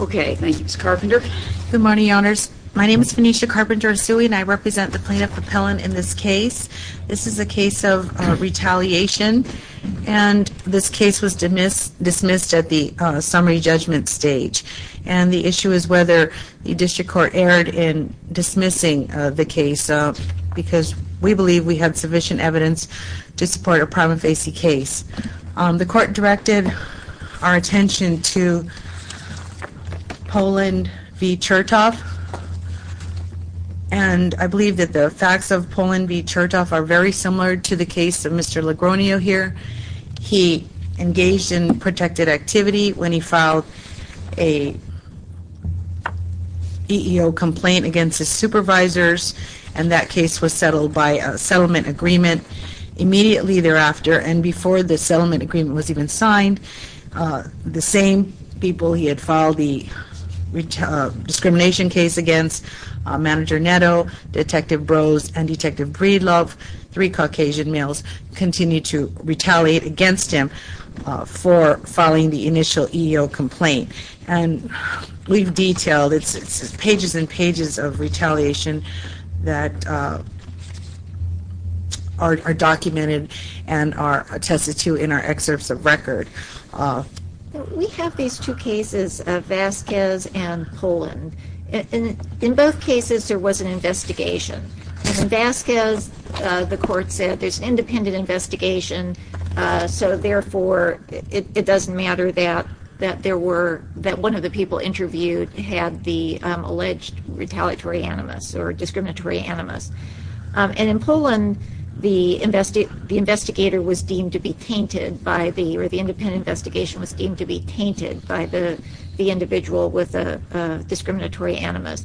Okay, thank you, Ms. Carpenter. Good morning, owners. My name is Venetia Carpenter-Asui and I represent the plaintiff appellant in this case. This is a case of retaliation and this case was dismissed at the summary judgment stage. And the issue is whether the district court erred in dismissing the case because we believe we have sufficient evidence to I believe that the facts of Pollen v. Chertoff are very similar to the case of Mr. Legronio here. He engaged in protected activity when he filed a EEO complaint against his supervisors and that case was settled by a settlement agreement. Immediately thereafter and before the settlement agreement was even signed, the same people he had filed the discrimination case against, Manager Netto, Detective Brose, and Detective Breedlove, three Caucasian males, continued to retaliate against him for filing the initial EEO complaint. And we've detailed, it's pages and pages of retaliation that are documented and are attested to in our excerpts of record. We have these two cases, Vasquez and Pollen. In both cases there was an investigation. Vasquez, the court said, there's an independent investigation so therefore it doesn't matter that one of the people interviewed had the alleged retaliatory animus or discriminatory was deemed to be tainted by the individual with a discriminatory animus.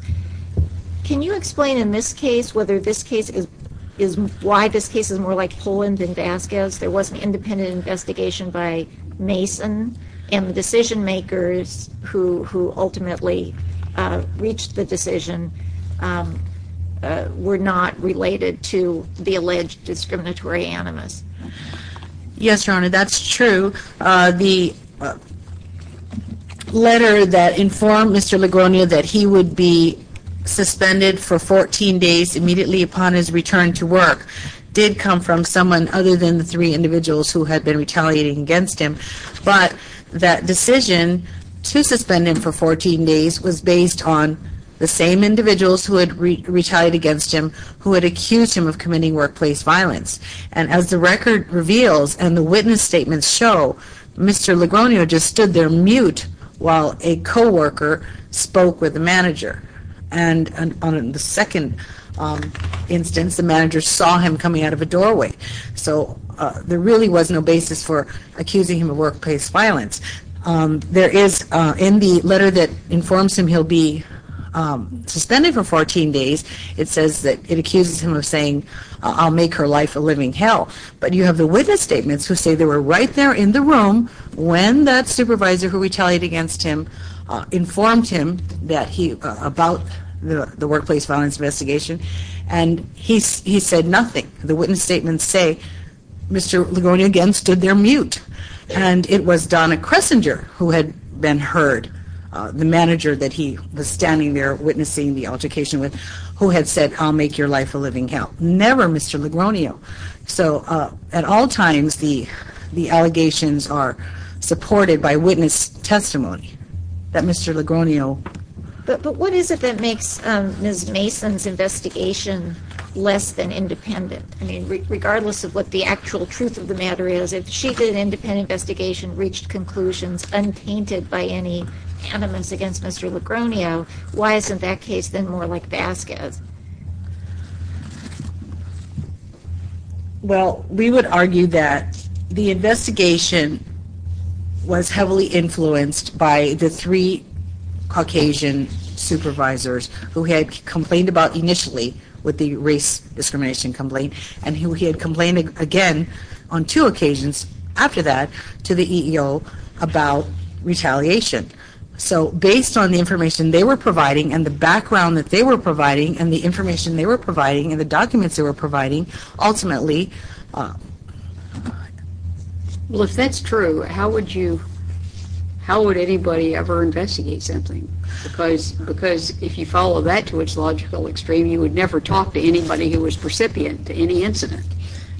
Can you explain in this case whether this case is, why this case is more like Pollen than Vasquez? There was an independent investigation by Mason and the decision makers who ultimately reached the decision were not related to the alleged discriminatory animus. Yes, Your Honor, that's true. The letter that informed Mr. Ligonier that he would be suspended for 14 days immediately upon his return to work did come from someone other than the three individuals who had been retaliating against him, but that decision to suspend him for 14 days was based on the same individuals who had retaliated against him, who had accused him of committing workplace violence. And as the record reveals and the witness statements show, Mr. Ligonier just stood there mute while a co-worker spoke with the manager. And on the second instance, the manager saw him coming out of a doorway. So there really was no basis for accusing him of workplace violence. There is, in the letter that informs him he'll be suspended for 14 days immediately upon his return to work, but you have the witness statements who say they were right there in the room when that supervisor who retaliated against him informed him about the workplace violence investigation and he said nothing. The witness statements say Mr. Ligonier again stood there mute. And it was Donna Kressinger who had been heard, the manager that he was standing there witnessing the altercation with who had said, I'll make your life a living hell. Never Mr. Ligonier. So at all times, the allegations are supported by witness testimony that Mr. Ligonier. But what is it that makes Ms. Mason's investigation less than independent? I mean, regardless of what the actual truth of the matter is, if she did an independent investigation, reached conclusions, untainted by any animus against Mr. Ligonier, why isn't that case then more like Vasquez? Well, we would argue that the investigation was heavily influenced by the three Caucasian supervisors who he had complained about initially with the race discrimination complaint and who he had complained again on two occasions after that to the EEO about retaliation. So based on the information they were providing and the background that they were providing and the information they were providing and the documents they were providing, ultimately Well, if that's true, how would you, how would anybody ever investigate something? Because if you follow that to its logical extreme, you would never talk to anybody who was recipient to any incident.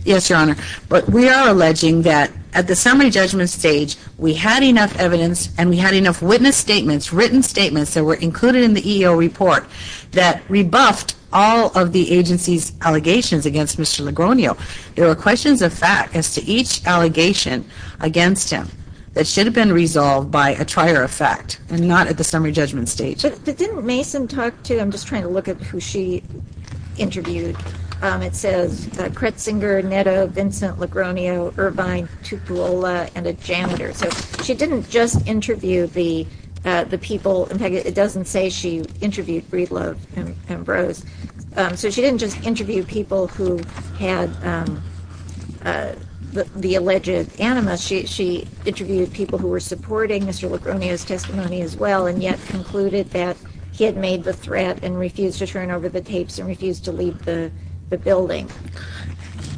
Yes, Your Honor. But we are alleging that at the summary judgment stage, we had enough evidence and we had enough witness statements, written statements that were included in the EEO report that rebuffed all of the agency's allegations against Mr. Ligonier. There were questions of fact as to each allegation against him that should have been resolved by a trier of fact and not at the summary judgment stage. But didn't Mason talk to, I'm just trying to look at who she interviewed, it says Kretzinger, Netto, Vincent, Ligonier, Irvine, Tupuola, and a janitor. So she didn't just interview the people, in fact it doesn't say she interviewed Breedlove and Ambrose, so she didn't just interview people who had the alleged animus, she interviewed people who were supporting Mr. Ligonier's testimony as well and yet concluded that he had made the threat and refused to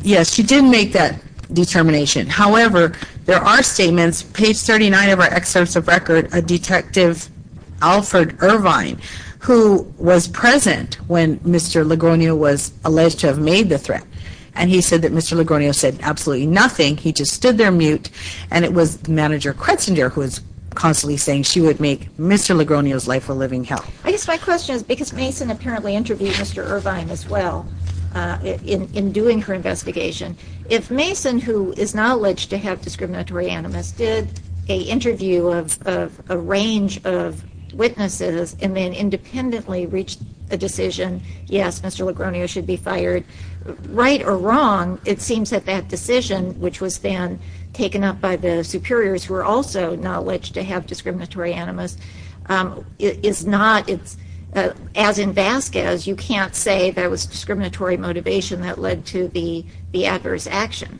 Yes, she did make that determination. However, there are statements, page 39 of our excerpts of record, a detective, Alfred Irvine, who was present when Mr. Ligonier was alleged to have made the threat and he said that Mr. Ligonier said absolutely nothing, he just stood there mute and it was manager Kretzinger who was constantly saying she would make Mr. Ligonier's life a living hell. I guess my question is because Mason apparently interviewed Mr. Irvine as well in doing her investigation, if Mason, who is now alleged to have discriminatory animus, did an interview of a range of witnesses and then independently reached a decision, yes, Mr. Ligonier should be fired, right or wrong, it seems that that decision, which was then taken up by the superiors who are also now alleged to have discriminatory animus, is not, as in Vasquez, you can't say that was discriminatory motivation that led to the adverse action.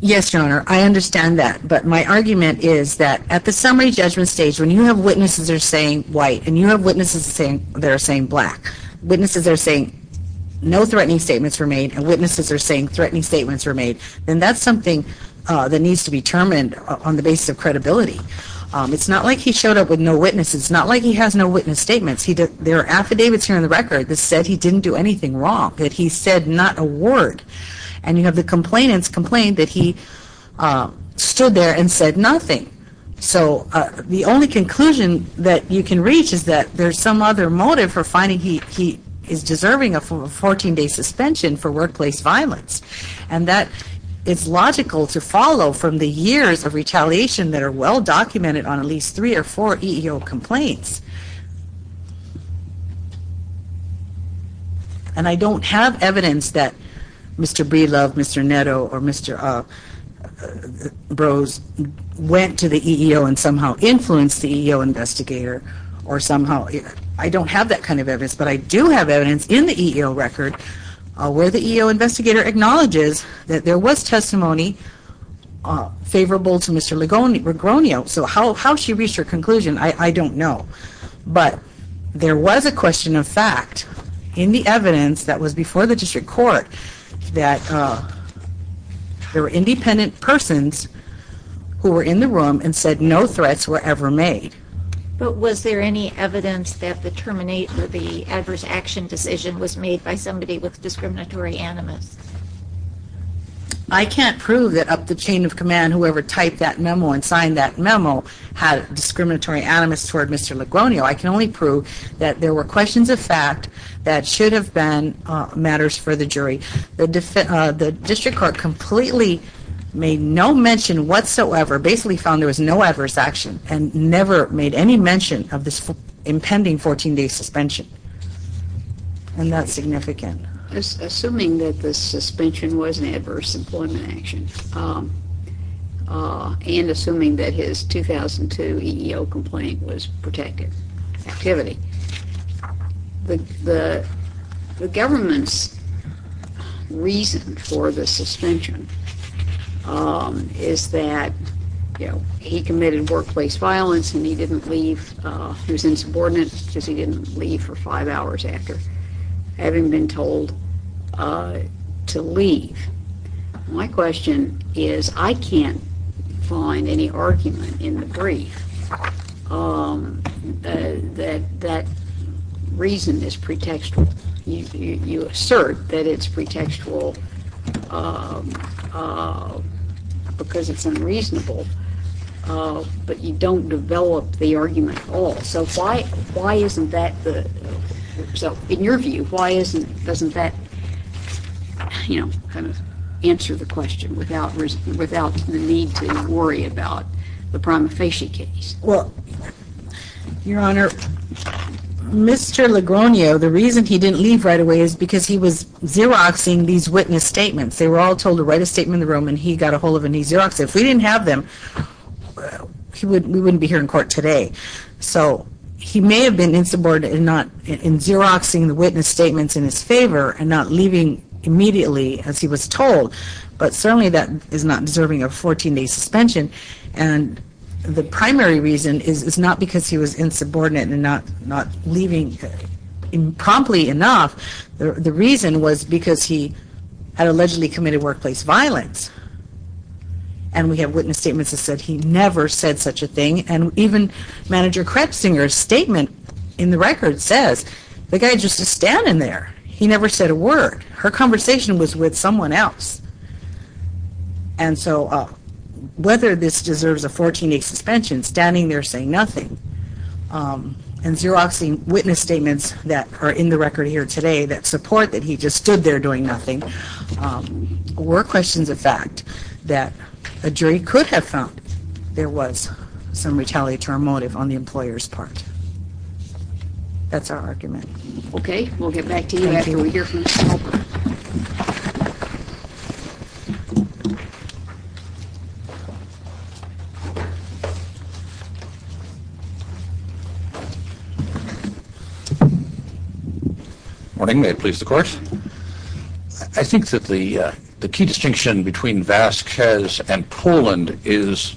Yes, Your Honor, I understand that, but my argument is that at the summary judgment stage when you have witnesses that are saying white and you have witnesses that are saying black, witnesses that are saying no threatening statements were made and witnesses that are saying threatening statements were made, then that's something that needs to be determined on the basis of credibility. It's not like he showed up with no witnesses, it's not like he has no witness statements. There are affidavits here in the record that said he didn't do anything wrong, that he said not a word, and you have the complainants complain that he stood there and said nothing. So the only conclusion that you can reach is that there's some other motive for finding he is deserving of a 14-day suspension for workplace violence, and that it's logical to follow from the years of retaliation that are well documented on at least three or four EEO complaints. And I don't have evidence that Mr. Breedlove, Mr. Netto, or Mr. Brose went to the EEO and somehow influenced the EEO investigator. I don't have that kind of evidence, but I do have evidence in the EEO record where the EEO investigator acknowledges that there was testimony favorable to Mr. Regronio. So how she reached her conclusion, I don't know. But there was a question of fact in the evidence that was before the district court that there were independent persons who were in the room and said no threats were ever made. But was there any evidence that the terminate or the adverse action decision was made by somebody with discriminatory animus? I can't prove that up the chain of command, whoever typed that memo and signed that memo had discriminatory animus toward Mr. Regronio. I can only prove that there were questions of fact that should have been matters for the jury. The district court completely made no mention whatsoever, basically found there was no adverse action, and never made any mention of this impending 14-day suspension. And that's significant. Assuming that the suspension was an adverse employment action, and assuming that his 2002 EEO complaint was protected activity, the government's reason for the suspension is that he committed workplace violence and he didn't leave, he was insubordinate because he didn't leave for five hours after having been told to leave. My question is, I can't find any argument in the brief that that reason is pretextual. You assert that it's pretextual because it's unreasonable, but you don't develop the argument at all. So in your view, why doesn't that answer the question without the need to worry about the prima facie case? Well, Your Honor, Mr. Regronio, the reason he didn't leave right away is because he was xeroxing these witness statements. They were all told to write a statement in the room and he got a hold of them and he xeroxed them. If we didn't have them, we wouldn't be here in court today. So he may have been insubordinate in xeroxing the witness statements in his favor and not leaving immediately as he was told, but certainly that is not deserving of 14-day suspension. And the primary reason is not because he was insubordinate and not leaving promptly enough. The reason was because he had allegedly committed workplace violence and we have witness statements that said he never said such a thing. And even Manager Krebsinger's statement in the record says the guy just is standing there. He never said a word. Her conversation was with someone else. And so whether this deserves a 14-day suspension, standing there saying nothing, and xeroxing witness statements that are in the record here today that support that he just stood there doing nothing, were questions of fact that a jury could have found there was some retaliatory motive on the employer's part. That's our argument. Okay. We'll get back to you, Abby, when we hear from Mr. Halpern. Good morning. May it please the Court? I think that the key distinction between Vasquez and Krebsinger is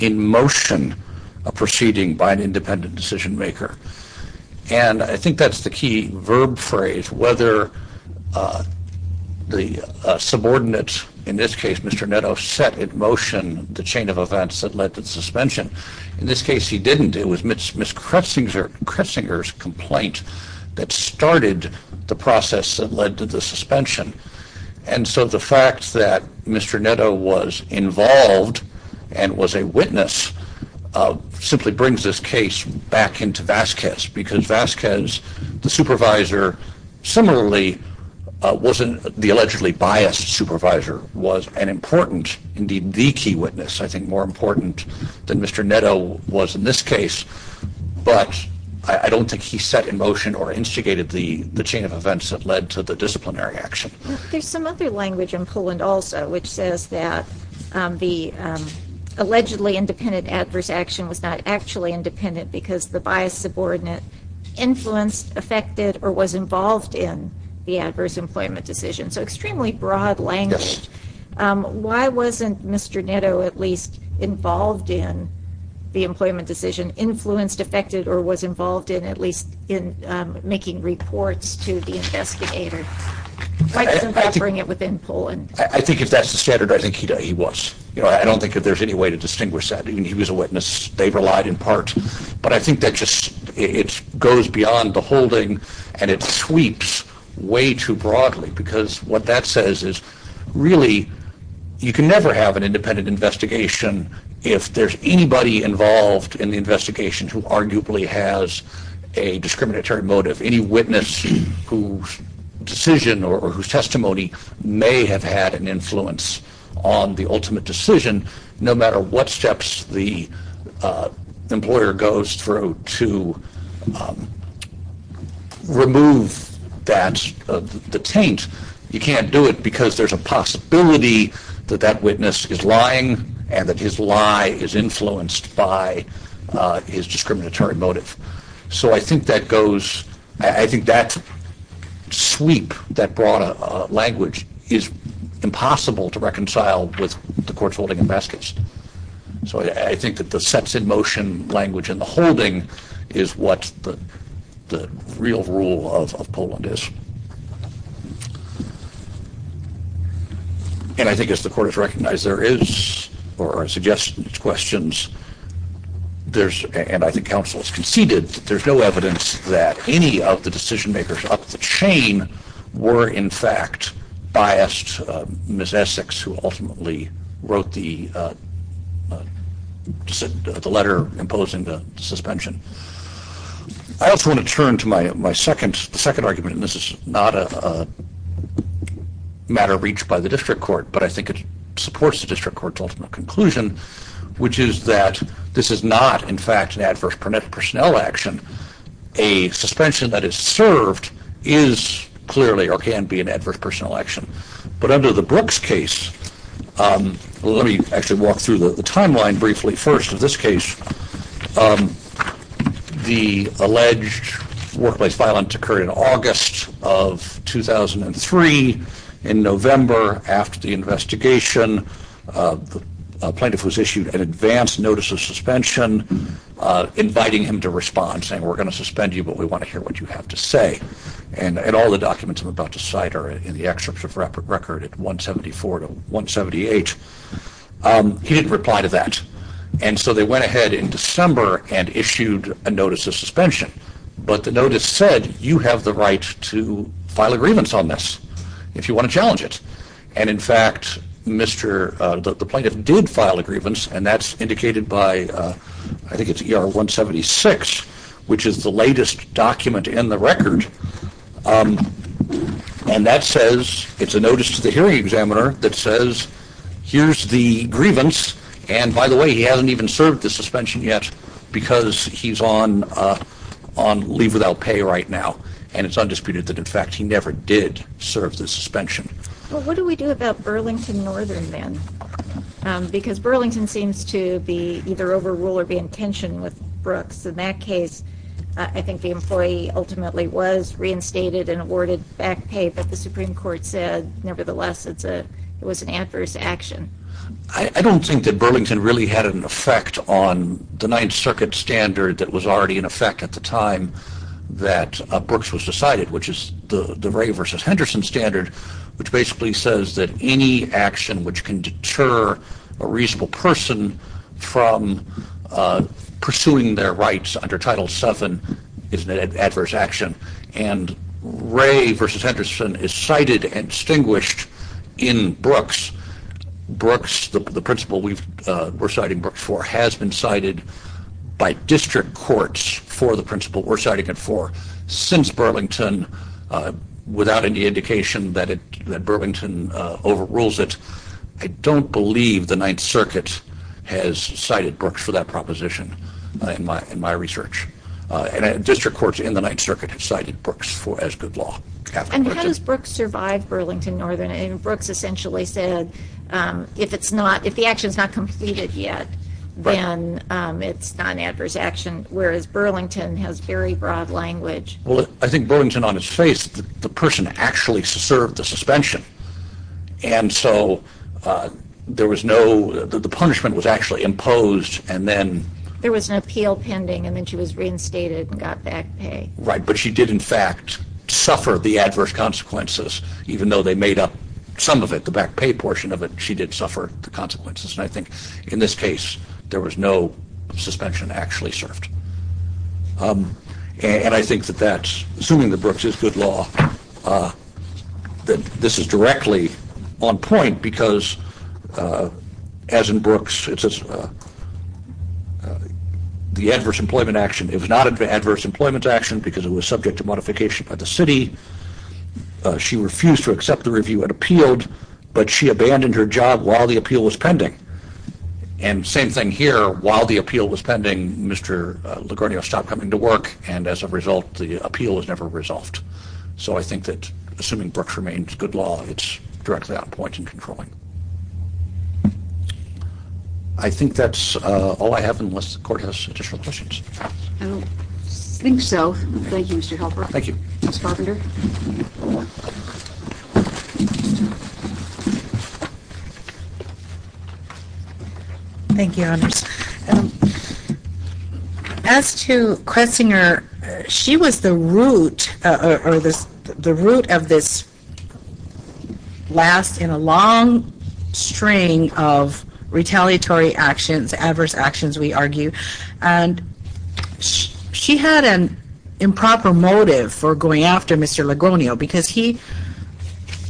in motion a proceeding by an independent decision-maker. And I think that's the key verb phrase, whether the subordinate, in this case Mr. Netto, set in motion the chain of events that led to the suspension. In this case he didn't. It was Ms. Krebsinger's complaint that started the process that led to the suspension. And so the fact that Mr. Netto was involved and was a witness simply brings this case back into Vasquez because Vasquez, the supervisor, similarly wasn't the allegedly biased supervisor, was an important, indeed the key witness, I think more important than Mr. Netto was in this case. But I don't think he set in motion or instigated the chain of events that led to the disciplinary action. There's some other language in Poland also which says that the allegedly independent adverse action was not actually independent because the biased subordinate influenced, affected, or was involved in the adverse employment decision. So extremely broad language. Why wasn't Mr. Netto at least involved in the employment decision, influenced, affected, or was involved in at least in making reports to the investigator? Why doesn't that bring it within Poland? I think if that's the standard, I think he was. I don't think there's any way to distinguish that. He was a witness. They relied in part. But I think that just goes beyond the holding and it sweeps way too broadly because what that says is really you can never have an independent investigation if there's anybody involved in the investigation who arguably has a discriminatory motive. Any witness whose decision or whose testimony may have had an influence on the ultimate decision, no matter what steps the employer goes through to remove that, the taint, you can't do it because there's a possibility that that witness is lying and that his lie is influenced by his discriminatory motive. So I think that goes, I think that sweep, that broad language is impossible to reconcile with the courts holding in baskets. So I think that the sets in motion language and the holding is what the real rule of Poland is. And I think as the court has recognized, there is, or I suggest in its questions, and I think counsel has conceded, there's no evidence that any of the decision makers up the chain were in fact biased, Ms. Essex, who ultimately wrote the letter imposing the suspension. I also want to turn to my second argument, and this is not a matter reached by the district court, but I think it supports the district court's ultimate conclusion, which is that this is not in fact an adverse personnel action. A suspension that is served is clearly or can be an adverse personnel action. But under the Brooks case, let me actually walk through the timeline briefly. First, in this case, the alleged workplace violence occurred in August of 2003. In November, after the investigation, a plaintiff was issued an advance notice of suspension, inviting him to respond, saying we're going to suspend you, but we want to hear what you have to say. And all the documents I'm about to cite are in the excerpts of record at 174 to 178. He didn't reply to that. And so they went ahead in December and issued a notice of suspension. But the notice said, you have the right to file a grievance on this if you want to challenge it. And in fact, the plaintiff did file a grievance, and that's indicated by, I think it's ER 176, which is the latest document in the record. And that says, it's a notice to the hearing examiner that says, here's the grievance. And by the way, he hasn't even served the suspension yet because he's on leave without pay right now. And it's undisputed that, in fact, he never did serve the suspension. Well, what do we do about Burlington Northern then? Because Burlington seems to be either overrule or be in tension with Brooks. In that case, I think the employee ultimately was reinstated and awarded back pay. But the Supreme Court said, nevertheless, it was an adverse action. I don't think that Burlington really had an effect on the Ninth Circuit standard that was already in effect at the time that Brooks was decided, which is the Ray versus Henderson standard, which basically says that any action which can deter a reasonable person from pursuing their rights under Title VII is an adverse action. And Ray versus Henderson is cited and distinguished in Brooks. Brooks, the principle we're citing Brooks for, has been cited by district courts for the principle we're citing it for since Burlington, without any indication that Burlington overrules it. I don't believe the Ninth Circuit has cited Brooks for that proposition in my research. District courts in the Ninth Circuit have cited Brooks as good law. And how does Brooks survive Burlington Northern? Brooks essentially said, if the action is not completed yet, then it's not an adverse action, whereas Burlington has very broad language. Well, I think Burlington, on its face, the person actually served the suspension. And so there was no, the punishment was actually imposed and then there was an appeal pending and then she was reinstated and got back pay. Right, but she did, in fact, suffer the adverse consequences, even though they made up some of it, the back pay portion of it, she did suffer the consequences. And I think in this case, there was no suspension actually served. And I think that that's, assuming that Brooks is good law, that this is directly on point, because as in Brooks, it's the adverse employment action. It was not an adverse employment action because it was subject to modification by the city. She refused to accept the review and appealed, but she abandoned her job while the appeal was pending. And same thing here. While the appeal was pending, Mr. Lagornio stopped coming to work. And as a result, the appeal was never resolved. So I think that, assuming Brooks remains good law, it's directly on point in controlling. I think that's all I have unless the court has additional questions. I don't think so. Thank you, Mr. Helper. Thank you. Ms. Carpenter. Thank you, Honors. As to Kressinger, she was the root of this last in a long string of retaliatory actions, adverse actions, we argue. And she had an improper motive for going after Mr. Lagornio because he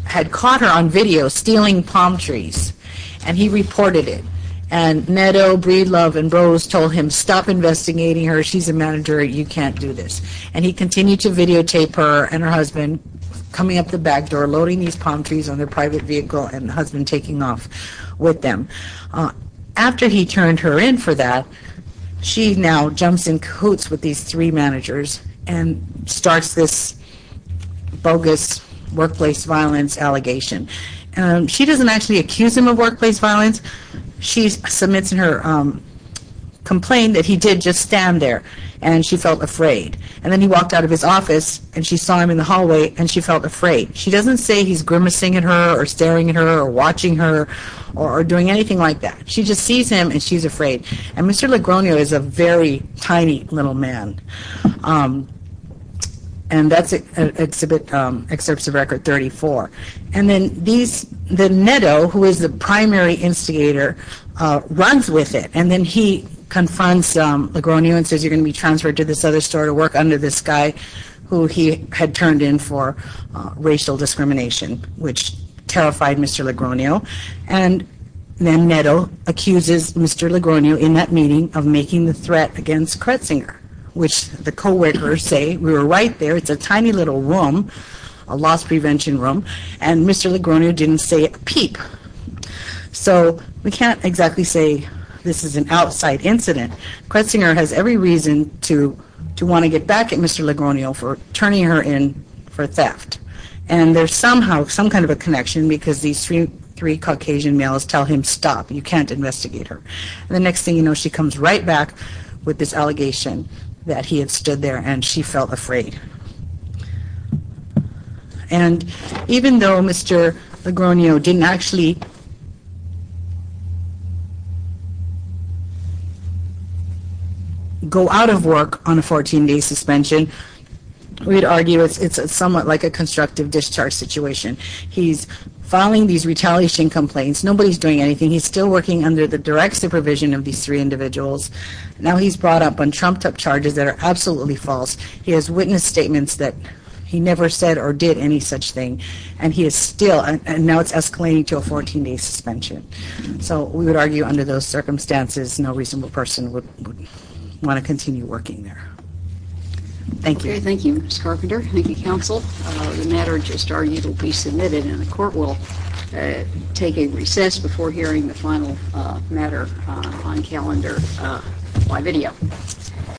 had caught her on video stealing palm trees, and he reported it. And Netto, Breedlove, and Rose told him, stop investigating her. She's a manager. You can't do this. And he continued to videotape her and her husband coming up the back door, loading these palm trees on their private vehicle, and the husband taking off with them. After he turned her in for that, she now jumps in cahoots with these three managers and starts this bogus workplace violence allegation. She doesn't actually accuse him of workplace violence. She submits in her complaint that he did just stand there, and she felt afraid. And then he walked out of his office, and she saw him in the hallway, and she felt afraid. She doesn't say he's grimacing at her or staring at her or watching her or doing anything like that. She just sees him, and she's afraid. And Mr. Lagornio is a very tiny little man, and that's Excerpts of Record 34. And then Netto, who is the primary instigator, runs with it, and then he confronts Lagornio and says you're going to be transferred to this other store to work under this guy who he had turned in for racial discrimination, which terrified Mr. Lagornio. And then Netto accuses Mr. Lagornio in that meeting of making the threat against Kretsinger, which the co-workers say we were right there. It's a tiny little room, a loss prevention room, and Mr. Lagornio didn't say a peep. So we can't exactly say this is an outside incident. Kretsinger has every reason to want to get back at Mr. Lagornio for turning her in for theft. And there's somehow some kind of a connection because these three Caucasian males tell him stop. You can't investigate her. And the next thing you know, she comes right back with this allegation that he had stood there and she felt afraid. And even though Mr. Lagornio didn't actually go out of work on a 14-day suspension, we'd argue it's somewhat like a constructive discharge situation. He's filing these retaliation complaints. Nobody's doing anything. He's still working under the direct supervision of these three individuals. Now he's brought up on trumped-up charges that are absolutely false. He has witness statements that he never said or did any such thing. And he is still, and now it's escalating to a 14-day suspension. So we would argue under those circumstances, no reasonable person would want to continue working there. Thank you. Thank you, Ms. Carpenter. Thank you, counsel. The matter just argued will be submitted, and the court will take a recess before hearing the final matter on calendar by video.